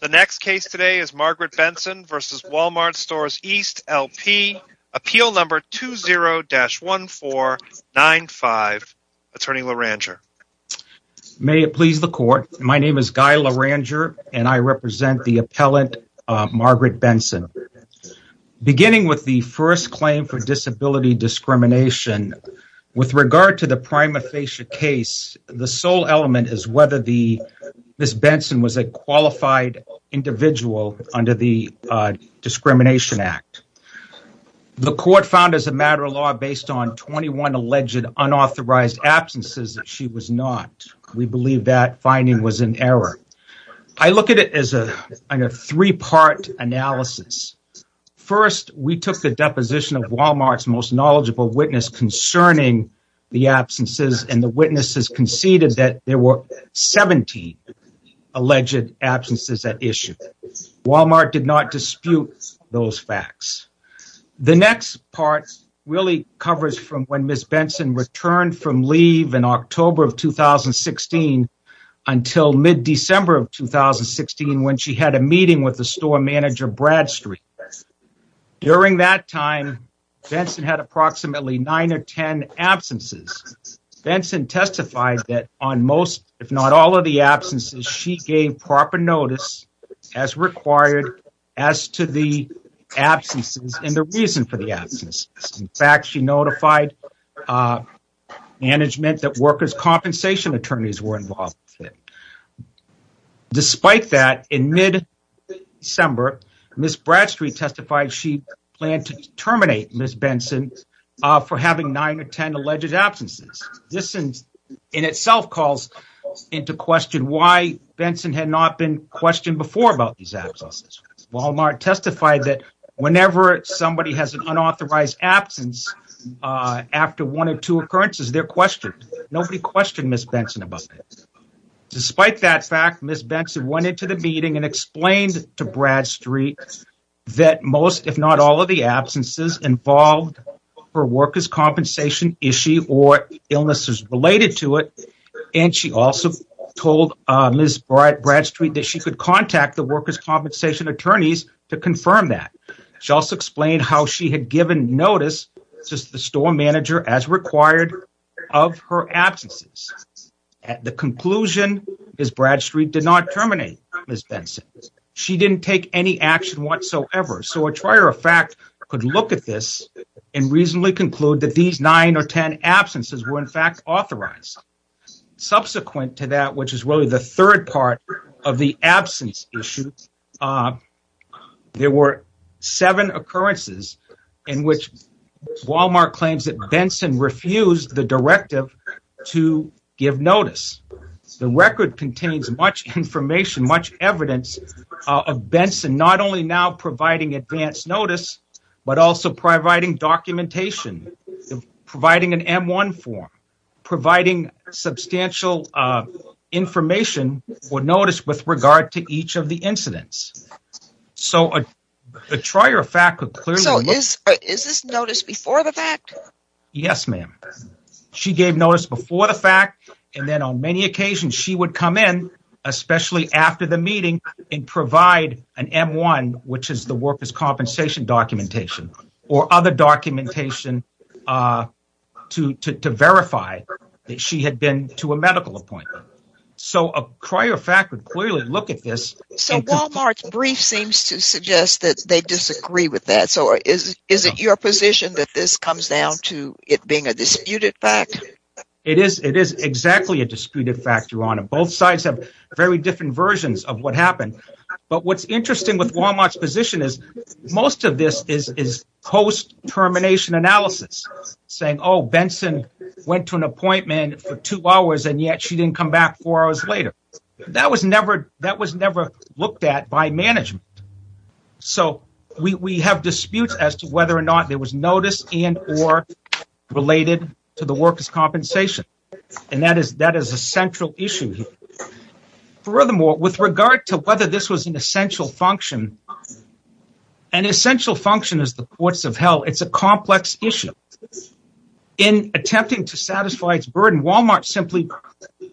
The next case today is Margaret Benson v. Wal-Mart Stores East L.P., Appeal No. 20-1495. Attorney LaRanger. May it please the court, my name is Guy LaRanger and I represent the appellant Margaret Benson. Beginning with the first claim for disability discrimination, with regard to the prima facie case, the sole element is whether Ms. Benson was a qualified individual under the Discrimination Act. The court found as a matter of law, based on 21 alleged unauthorized absences, that she was not. We believe that finding was an error. I look at it as a three-part analysis. First, we took the deposition of Wal-Mart's most knowledgeable witness concerning the witnesses conceded that there were 17 alleged absences at issue. Wal-Mart did not dispute those facts. The next part really covers from when Ms. Benson returned from leave in October of 2016 until mid-December of 2016, when she had a meeting with the store manager, Bradstreet. During that time, Benson had approximately 9 or 10 absences. Benson testified that on most, if not all of the absences, she gave proper notice as required as to the absences and the reason for the absences. In fact, she notified management that workers' compensation attorneys were involved. Despite that, in mid-December, Ms. Bradstreet testified she planned to terminate Ms. Benson for having 9 or 10 alleged absences. This in itself calls into question why Benson had not been questioned before about these absences. Wal-Mart testified that whenever somebody has an unauthorized absence after one or two occurrences, they're questioned. Nobody questioned Ms. Benson about it. Despite that fact, Ms. Benson went into the meeting and explained to Bradstreet that most, if not all of the absences involved her workers' compensation issue or illnesses related to it. And she also told Ms. Bradstreet that she could contact the workers' compensation attorneys to confirm that. She also explained how she had given notice to the store manager as required of her absences. At the conclusion, Ms. Bradstreet did not terminate Ms. Benson. She didn't take any action whatsoever. So a trier of fact could look at this and reasonably conclude that these 9 or 10 absences were in fact authorized. Subsequent to that, which is really the third part of the absence issue, there were 7 occurrences in which Wal-Mart claims that Benson refused the directive to give notice. The record contains much information, much evidence of Benson not only now providing advance notice, but also providing documentation, providing an M-1 form, providing substantial information or notice with regard to each of the incidents. So a trier of fact could clearly look at this. Is this notice before the fact? Yes, ma'am. She gave notice before the fact, and then on many occasions she would come in, especially after the meeting, and provide an M-1, which is the workers' compensation documentation, or other documentation to verify that she had been to a medical appointment. So a trier of fact would clearly look at this. So Wal-Mart's brief seems to suggest that they disagree with that, so is it your position that this comes down to it being a disputed fact? It is exactly a disputed fact, Your Honor. Both sides have very different versions of what happened. But what's interesting with Wal-Mart's position is most of this is post-termination analysis, saying Benson went to an appointment for two hours and yet she didn't come back four hours later. That was never looked at by management. So we have disputes as to whether or not there was notice and or related to the workers' compensation, and that is a central issue here. Furthermore, with regard to whether this was an essential function, an essential function is the courts of hell. It's a complex issue. In attempting to satisfy its burden, Wal-Mart simply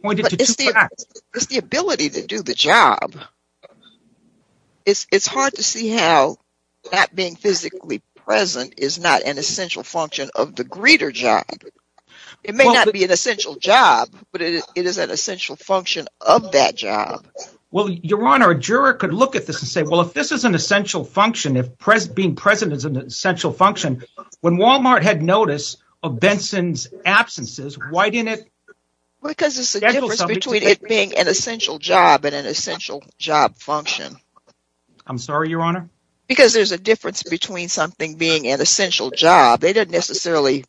pointed to two facts. It's the ability to do the job. It's hard to see how that being physically present is not an essential function of the greeter job. It may not be an essential job, but it is an essential function of that job. Well, Your Honor, a juror could look at this and say, well, if this is an essential function, if being present is an essential function, when Wal-Mart had notice of Benson's absences, why didn't it schedule something? Because there's a difference between it being an essential job and an essential job function. I'm sorry, Your Honor? Because there's a difference between something being an essential job. They didn't necessarily,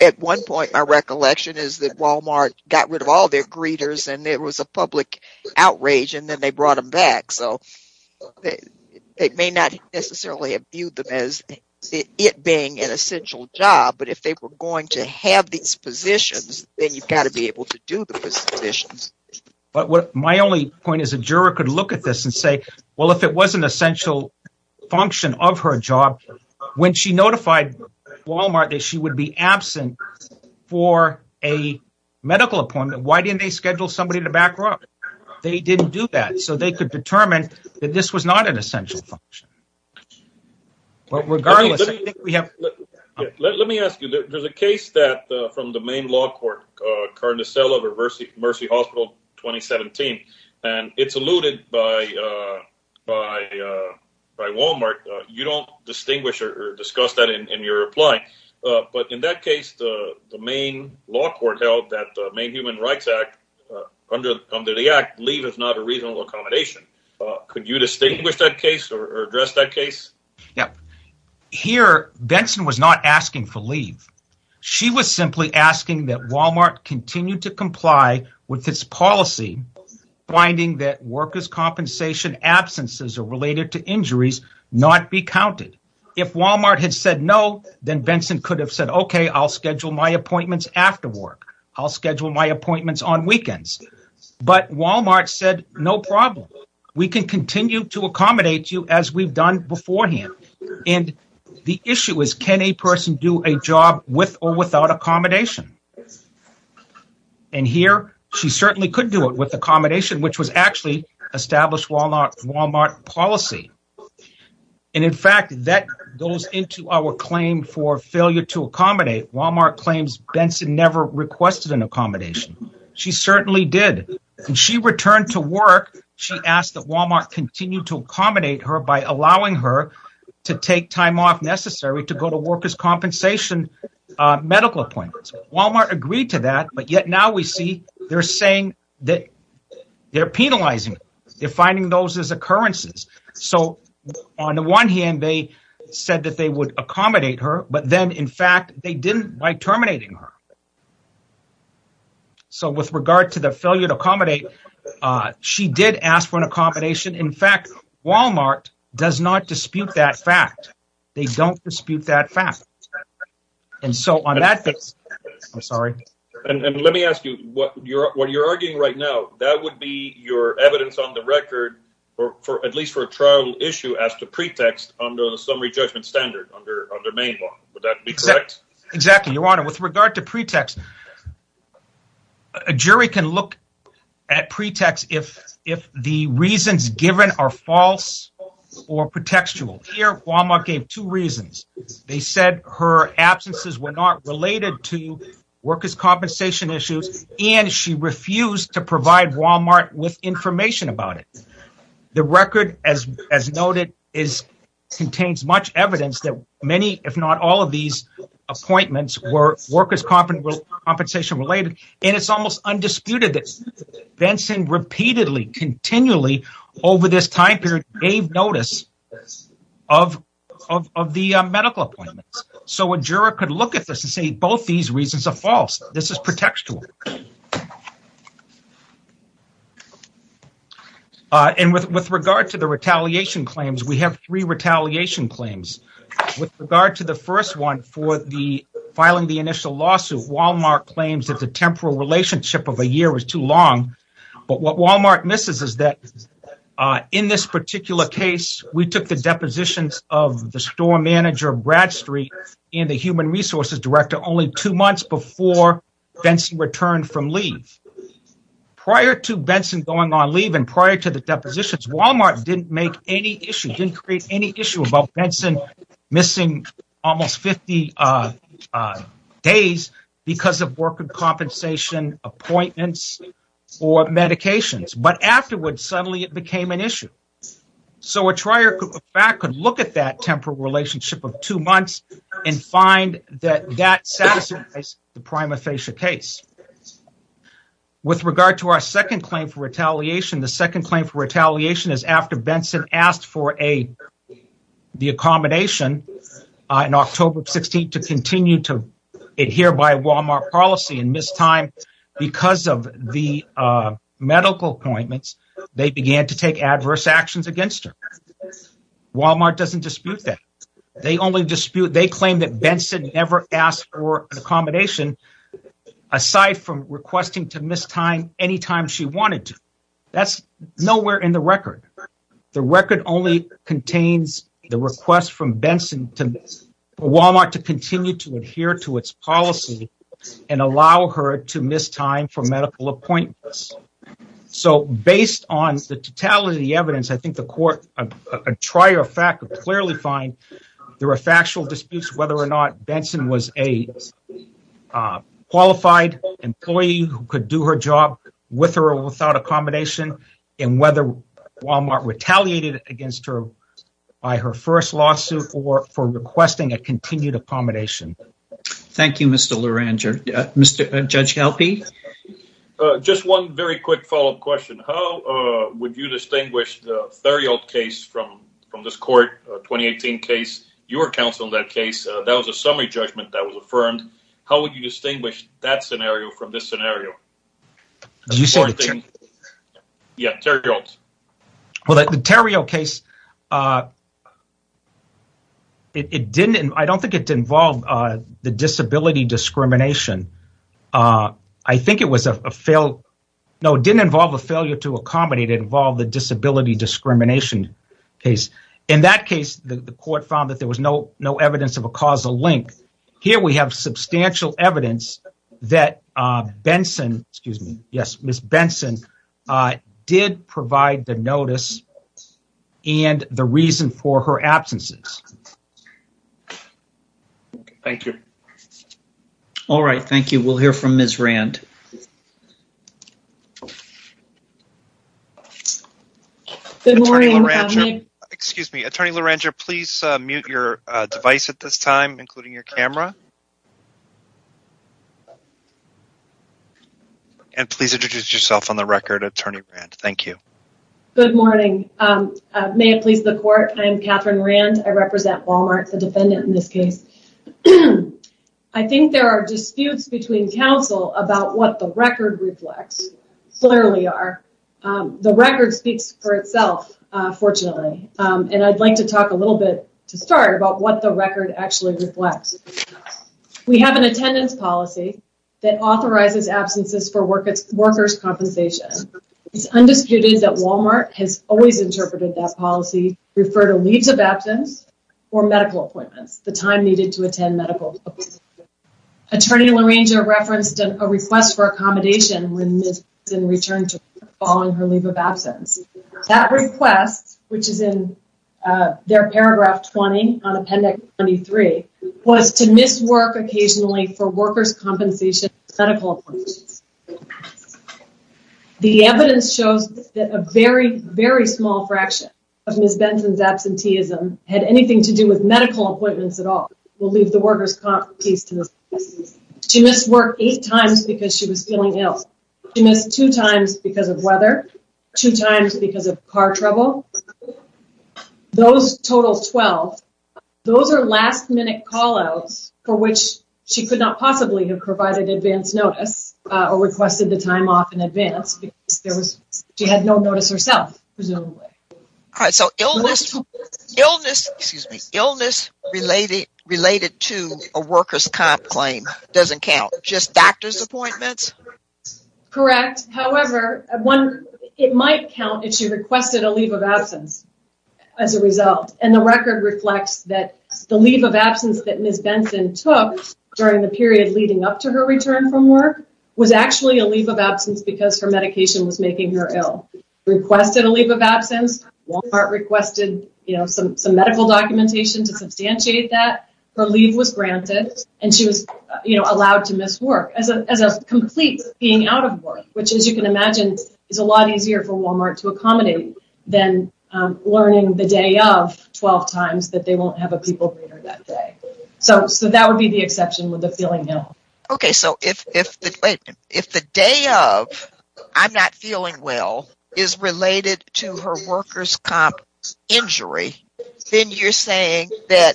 at one point my recollection is that Wal-Mart got rid of all their greeters and there was a public outrage and then they brought them back. So it may not necessarily have viewed them as it being an essential job, but if they were going to have these positions, then you've got to be able to do the positions. My only point is a juror could look at this and say, well, if it was an essential function of her job, when she notified Wal-Mart that she would be absent for a medical appointment, why didn't they schedule somebody to back her up? They didn't do that. So they could determine that this was not an essential function. But regardless, I think we have... Let me ask you, there's a case that from the main law court, Carden de Selo versus Mercy Hospital 2017, and it's alluded by Wal-Mart. You don't distinguish or discuss that in your reply, but in that case, the main law court held that the Main Human Rights Act, under the act, leave is not a reasonable accommodation. Could you distinguish that case or address that case? Yeah. Here, Benson was not asking for leave. She was simply asking that Wal-Mart continue to comply with its policy, finding that workers' compensation absences are related to injuries, not be counted. If Wal-Mart had said no, then Benson could have said, okay, I'll schedule my appointments after work. I'll schedule my appointments on weekends. But Wal-Mart said, no problem. We can continue to accommodate you as we've done beforehand. And the issue is, can a person do a job with or without accommodation? And here, she certainly could do it with accommodation, which was actually established Wal-Mart policy. And in fact, that goes into our claim for failure to accommodate. Wal-Mart claims Benson never requested an accommodation. She certainly did. When she returned to work, she asked that Wal-Mart continue to accommodate her by allowing her to take time off necessary to go to workers' compensation medical appointments. Wal-Mart agreed to that. But yet now we see they're saying that they're penalizing. They're finding those as occurrences. So on the one hand, they said that they would accommodate her. But then in fact, they didn't by terminating her. So with regard to the failure to accommodate, she did ask for an accommodation. In fact, Wal-Mart does not dispute that fact. They don't dispute that fact. And so on that basis, I'm sorry. And let me ask you what you're arguing right now. That would be your evidence on the record, or at least for a trial issue, as the pretext under the summary judgment standard under Maine law. Would that be correct? Exactly, Your Honor. With regard to pretext, a jury can look at pretext if the reasons given are false or pretextual. Here, Wal-Mart gave two reasons. They said her absences were not related to workers' compensation issues, and she refused to provide Wal-Mart with information about it. The record, as noted, contains much evidence that many, if not all of these appointments were workers' compensation related. And it's almost undisputed that Benson repeatedly, continually over this time period gave notice of the medical appointments. So a juror could look at this and say both these reasons are false. This is pretextual. And with regard to the retaliation claims, we have three retaliation claims. With regard to the first one for the filing the initial lawsuit, Wal-Mart claims that the temporal relationship of a year was too long. But what Wal-Mart misses is that in this particular case, we took the depositions of the store manager of Bradstreet and the human resources director only two months before Benson returned from leave. Prior to Benson going on leave and prior to the depositions, Wal-Mart didn't make any issue, didn't create any issue about Benson missing almost 50 days because of workers' compensation appointments or medications. But afterwards, suddenly, it became an issue. So a trial could look at that temporal relationship of two months and find that that satisfies the prima facie case. With regard to our second claim for retaliation, the second claim for retaliation is after Benson asked for the accommodation on October 16th to continue to adhere by Wal-Mart policy and missed time because of the medical appointments. They began to take adverse actions against her. Wal-Mart doesn't dispute that. They only dispute they claim that Benson never asked for an accommodation aside from requesting to miss time any time she wanted to. That's nowhere in the record. The record only contains the request from Benson to Wal-Mart to continue to adhere to its policy and allow her to miss time for medical appointments. So based on the totality of the evidence, I think the court, a trier fact, would clearly find there are factual disputes whether or not Benson was a qualified employee who could do her job with or without accommodation and whether Wal-Mart retaliated against her by her first lawsuit or for requesting a continued accommodation. Thank you, Mr. Luranger. Mr. Judge Helpe? Just one very quick follow-up question. Would you distinguish the Theriot case from this court, 2018 case, your counsel in that case? That was a summary judgment that was affirmed. How would you distinguish that scenario from this scenario? Well, the Theriot case, I don't think it involved the disability discrimination. I think it didn't involve a failure to accommodate. It involved the disability discrimination case. In that case, the court found that there was no evidence of a causal link. Here we have substantial evidence that Ms. Benson did provide the notice and the reason for her absences. Thank you. All right. Thank you. We'll hear from Ms. Rand. Good morning. Excuse me. Attorney Luranger, please mute your device at this time, including your camera. And please introduce yourself on the record, Attorney Rand. Thank you. Good morning. May it please the court, I'm Catherine Rand. I represent Wal-Mart, the defendant in this case. I think there are disputes between counsel about what the record reflects. Clearly are. The record speaks for itself, fortunately. And I'd like to talk a little bit to start about what the record actually reflects. We have an attendance policy that authorizes absences for workers' compensation. It's undisputed that Wal-Mart has always interpreted that policy, refer to leaves of absence or medical appointments, the time needed to attend medical. Attorney Luranger referenced a request for accommodation when Ms. Benson returned to work following her leave of absence. That request, which is in their paragraph 20 on Appendix 23, was to miss work occasionally for workers' compensation for medical appointments. The evidence shows that a very, very small fraction of Ms. Benson's absenteeism had anything to do with medical appointments at all. We'll leave the workers' comp piece to Ms. Benson. She missed work eight times because she was feeling ill. She missed two times because of weather, two times because of car trouble. Those total 12. Those are last-minute call-outs for which she could not possibly have provided advance notice or requested the time off in advance because she had no notice herself, presumably. All right, so illness related to a workers' comp claim doesn't count, just doctor's appointments? Correct. However, it might count if she requested a leave of absence as a result. And the record reflects that the leave of absence that Ms. Benson took during the period leading up to her return from work was actually a leave of absence because her medication was making her ill. Requested a leave of absence. Walmart requested some medical documentation to substantiate that. Her leave was granted and she was allowed to miss work as a complete being out of work, which, as you can imagine, is a lot easier for Walmart to accommodate than learning the day of 12 times that they won't have a people breeder that day. So that would be the exception with the feeling ill. Okay, so if the day of I'm not feeling well is related to her workers' comp injury, then you're saying that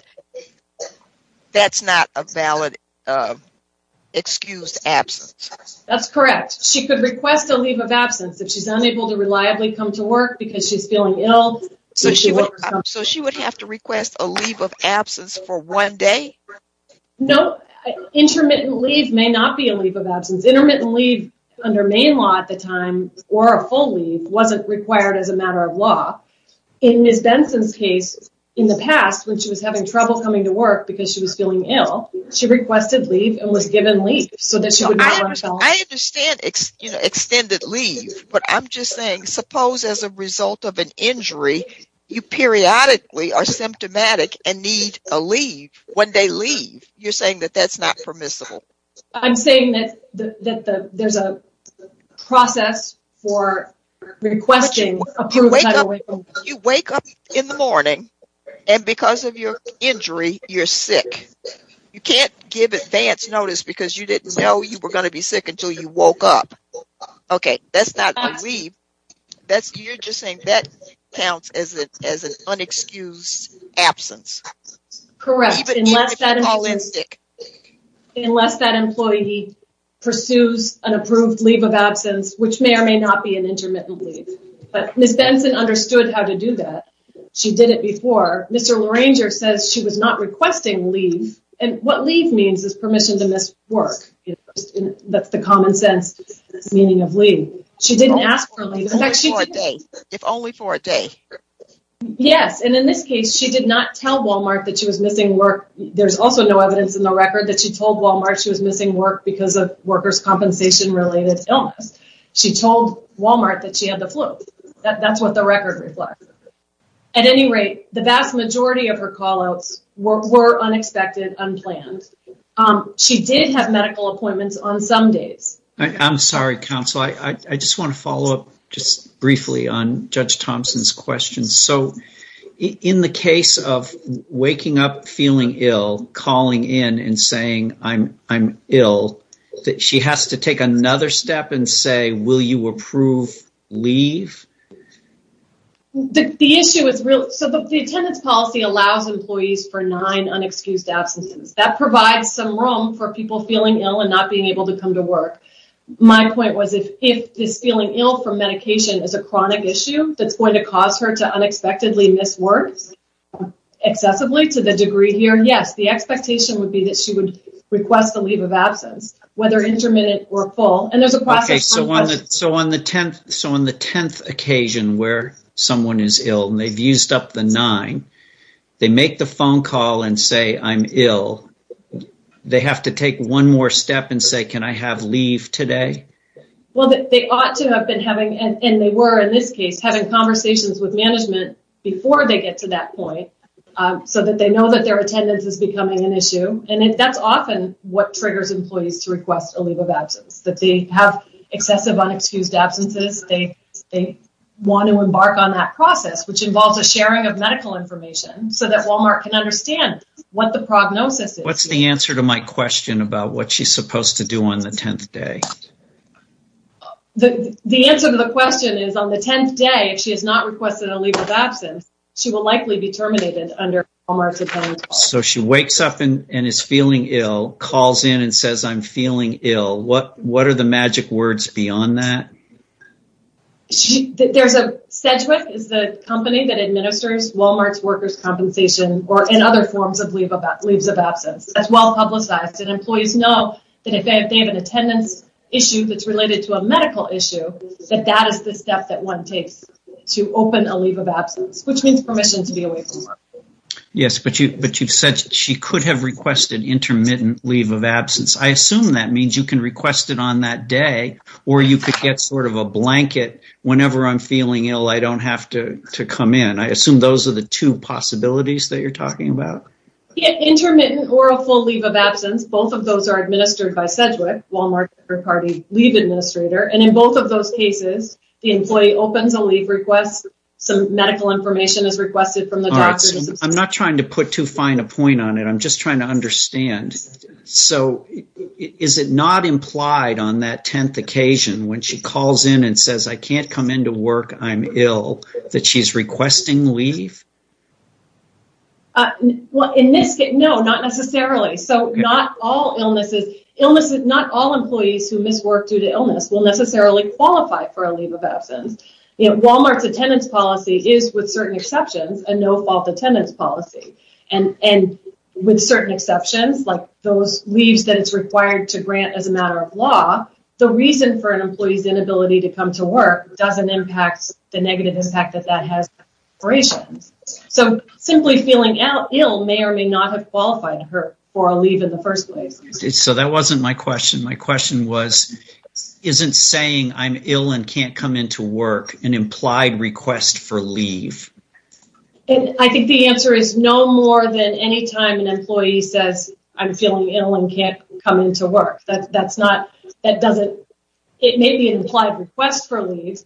that's not a valid excused absence. That's correct. She could request a leave of absence if she's unable to reliably come to work because she's feeling ill. So she would have to request a leave of absence for one day? No, intermittent leave may not be a leave of absence. Intermittent leave under Maine law at the time, or a full leave, wasn't required as a matter of law. In Ms. Benson's case, in the past when she was having trouble coming to work because she was feeling ill, she requested leave and was given leave. I understand extended leave, but I'm just saying suppose as a result of an injury, you periodically are symptomatic and need a leave. When they leave, you're saying that that's not permissible. I'm saying that there's a process for requesting approval. You wake up in the morning and because of your injury, you're sick. You can't give advance notice because you didn't know you were going to be sick until you woke up. Okay, that's not a leave. You're just saying that counts as an unexcused absence. Correct, unless that employee pursues an approved leave of absence, which may or may not be an intermittent leave. But Ms. Benson understood how to do that. She did it before. Mr. Larranger says she was not requesting leave. And what leave means is permission to miss work. She didn't ask for leave. If only for a day. Yes, and in this case, she did not tell Walmart that she was missing work. There's also no evidence in the record that she told Walmart she was missing work because of workers' compensation-related illness. She told Walmart that she had the flu. That's what the record reflects. At any rate, the vast majority of her call-outs were unexpected, unplanned. She did have medical appointments on some days. I'm sorry, counsel. I just want to follow up just briefly on Judge Thompson's questions. So, in the case of waking up feeling ill, calling in and saying, I'm ill, she has to take another step and say, will you approve leave? The issue is real. So, the attendance policy allows employees for nine unexcused absences. That provides some room for people feeling ill and not being able to come to work. My point was, if this feeling ill from medication is a chronic issue that's going to cause her to unexpectedly miss work excessively to the degree here, yes, the expectation would be that she would request the leave of absence, whether intermittent or full. And there's a process. So, on the 10th occasion where someone is ill and they've used up the nine, they make the phone call and say, I'm ill. They have to take one more step and say, can I have leave today? Well, they ought to have been having, and they were in this case, having conversations with management before they get to that point so that they know that their attendance is becoming an issue. And that's often what triggers employees to request a leave of absence, that they have excessive unexcused absences. They want to embark on that process, which involves a sharing of medical information so that Walmart can understand what the prognosis is. What's the answer to my question about what she's supposed to do on the 10th day? The answer to the question is on the 10th day, if she has not requested a leave of absence, she will likely be terminated under Walmart's appendix. So, she wakes up and is feeling ill, calls in and says, I'm feeling ill. What are the magic words beyond that? Sedgwick is the company that administers Walmart's workers' compensation and other forms of leaves of absence. That's well publicized, and employees know that if they have an attendance issue that's related to a medical issue, that that is the step that one takes to open a leave of absence, which means permission to be away from work. Yes, but you've said she could have requested intermittent leave of absence. I assume that means you can request it on that day or you could get sort of a blanket. Whenever I'm feeling ill, I don't have to come in. I assume those are the two possibilities that you're talking about. Intermittent or a full leave of absence, both of those are administered by Sedgwick, Walmart's leave administrator. And in both of those cases, the employee opens a leave request. Some medical information is requested from the doctors. I'm not trying to put too fine a point on it. I'm just trying to understand. So is it not implied on that 10th occasion when she calls in and says, I can't come into work, I'm ill, that she's requesting leave? Well, in this case, no, not necessarily. So not all illnesses, not all employees who miss work due to illness will necessarily qualify for a leave of absence. Walmart's attendance policy is, with certain exceptions, a no-fault attendance policy. And with certain exceptions, like those leaves that it's required to grant as a matter of law, the reason for an employee's inability to come to work doesn't impact the negative impact that that has on operations. So simply feeling ill may or may not have qualified for a leave in the first place. So that wasn't my question. My question was, isn't saying I'm ill and can't come into work an implied request for leave? And I think the answer is no more than any time an employee says I'm feeling ill and can't come into work. It may be an implied request for leave,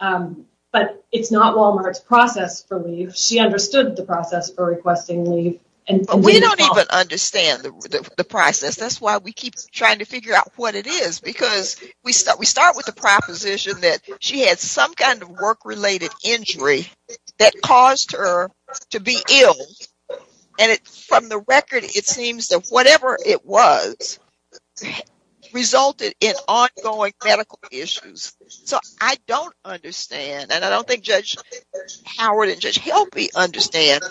but it's not Walmart's process for leave. She understood the process for requesting leave. And we don't even understand the process. That's why we keep trying to figure out what it is. Because we start with the proposition that she had some kind of work-related injury that caused her to be ill. And from the record, it seems that whatever it was resulted in ongoing medical issues. So I don't understand. And I don't think Judge Howard and Judge Helpe understand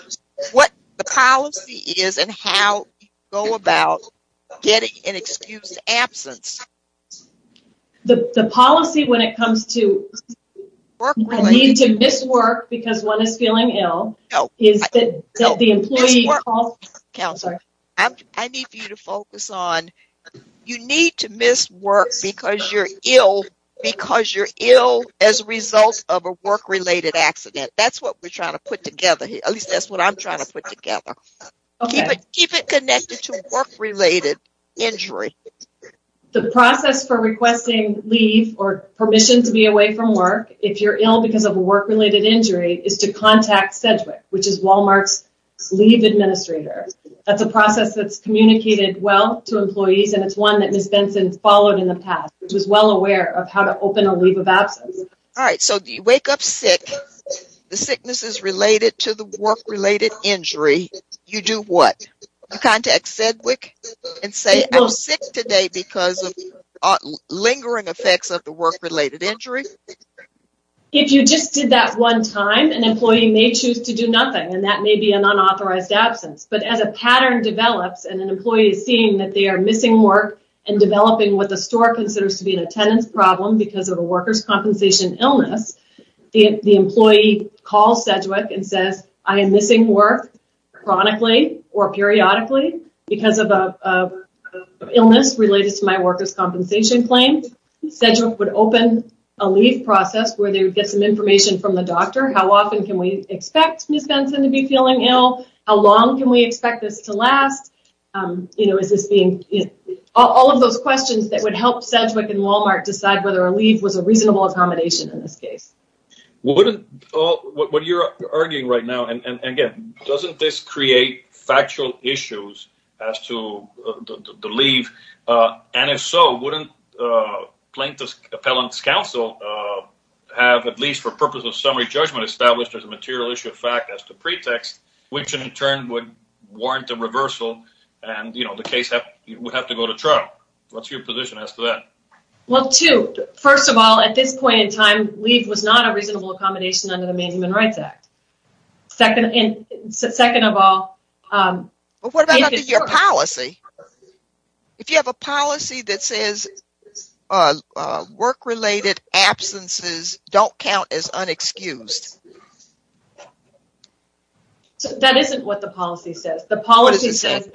what the policy is and how you go about getting an excused absence. So the policy when it comes to need to miss work because one is feeling ill, is that the employee... Miss work. Counselor, I need you to focus on, you need to miss work because you're ill because you're ill as a result of a work-related accident. That's what we're trying to put together. At least that's what I'm trying to put together. Keep it connected to work-related injury. The process for requesting leave or permission to be away from work if you're ill because of a work-related injury is to contact Sedgwick, which is Walmart's leave administrator. That's a process that's communicated well to employees. And it's one that Miss Benson followed in the past, which was well aware of how to open a leave of absence. All right. So you wake up sick. The sickness is related to the work-related injury. You do what? Contact Sedgwick and say, I'm sick today because of lingering effects of the work-related injury. If you just did that one time, an employee may choose to do nothing, and that may be an unauthorized absence. But as a pattern develops, and an employee is seeing that they are missing work and developing what the store considers to be an attendance problem because of a worker's compensation illness, the employee calls Sedgwick and says, I am missing work chronically or periodically because of an illness related to my worker's compensation claim. Sedgwick would open a leave process where they would get some information from the doctor. How often can we expect Miss Benson to be feeling ill? How long can we expect this to last? All of those questions that would help Sedgwick and Walmart decide whether a leave was a reasonable accommodation in this case. What you're arguing right now, and again, doesn't this create factual issues as to the leave? And if so, wouldn't plaintiff's appellant's counsel have at least for purpose of summary judgment established as a material issue of fact as the pretext, which in turn would warrant a reversal and the case would have to go to trial? What's your position as to that? Well, two. First of all, at this point in time, leave was not a reasonable accommodation under the Main Human Rights Act. Second, and second of all... But what about your policy? If you have a policy that says work-related absences don't count as unexcused. That isn't what the policy says. The policy says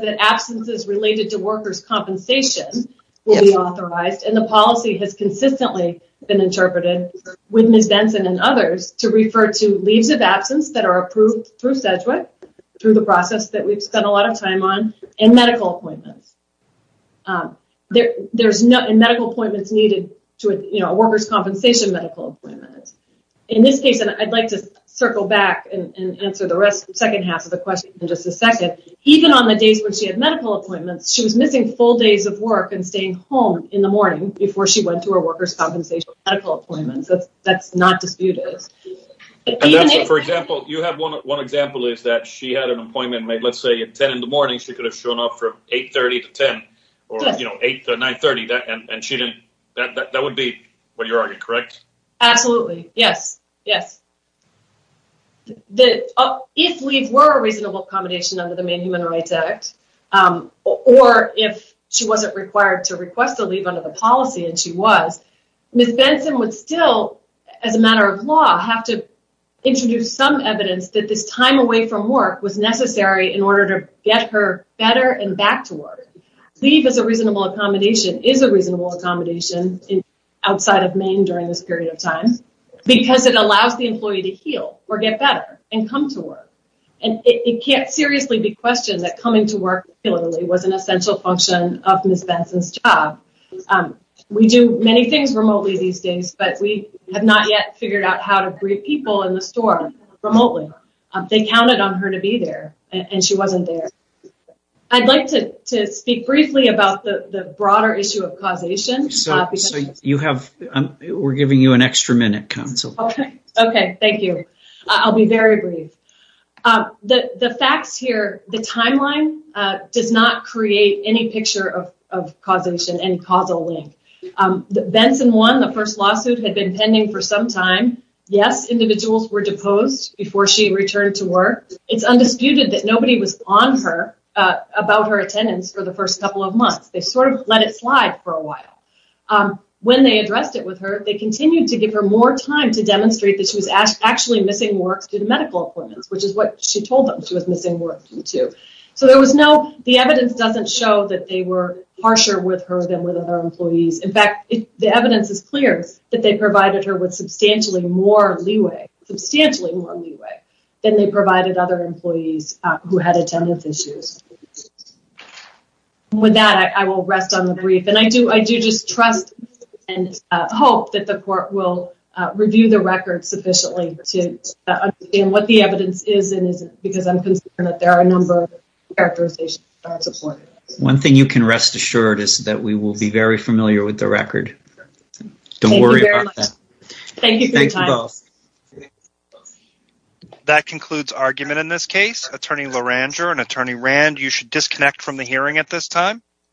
that absences related to worker's compensation will be authorized, and the policy has consistently been interpreted with Ms. Benson and others to refer to leaves of absence that are approved through Sedgwick, through the process that we've spent a lot of time on, and medical appointments. There's no medical appointments needed to a worker's compensation medical appointment. In this case, and I'd like to circle back and answer the second half of the question in just a second. Even on the days when she had medical appointments, she was missing full days of work and staying home in the morning before she went to her worker's compensation medical appointments. That's not disputed. For example, you have one example, is that she had an appointment, maybe let's say at 10 in the morning, she could have shown up from 8.30 to 10, or 8 to 9.30, and that would be what you're arguing, correct? Absolutely, yes. If leave were a reasonable accommodation under the Main Human Rights Act, or if she wasn't required to request a leave under the policy, and she was, Ms. Benson would still, as a matter of law, have to introduce some evidence that this time away from work was necessary in order to get her better and back to work. Leave is a reasonable accommodation, is a reasonable accommodation outside of Maine during this period of time, because it allows the employee to heal, or get better, and come to work. And it can't seriously be questioned that coming to work regularly was an essential function of Ms. Benson's job. We do many things remotely these days, but we have not yet figured out how to brief people in the store remotely. They counted on her to be there, and she wasn't there. I'd like to speak briefly about the broader issue of causation. We're giving you an extra minute, Counsel. Okay, thank you. I'll be very brief. The facts here, the timeline does not create any picture of causation, any causal link. Benson won the first lawsuit, had been pending for some time. Yes, individuals were deposed before she returned to work. It's undisputed that nobody was on her about her attendance for the first couple of months. They sort of let it slide for a while. When they addressed it with her, they continued to give her more time to demonstrate that she was actually missing work due to medical appointments, which is what she told them she was missing work due to. The evidence doesn't show that they were harsher with her than with other employees. In fact, the evidence is clear that they provided her with substantially more leeway, substantially more leeway than they provided other employees who had attendance issues. With that, I will rest on the brief, and I do just trust and hope that the court will review the record sufficiently to understand what the evidence is and isn't, because I'm concerned that there are a number of characterizations that aren't supported. One thing you can rest assured is that we will be very familiar with the record. Don't worry about that. Thank you for your time. That concludes argument in this case. Attorney LaRanger and Attorney Rand, you should disconnect from the hearing at this time.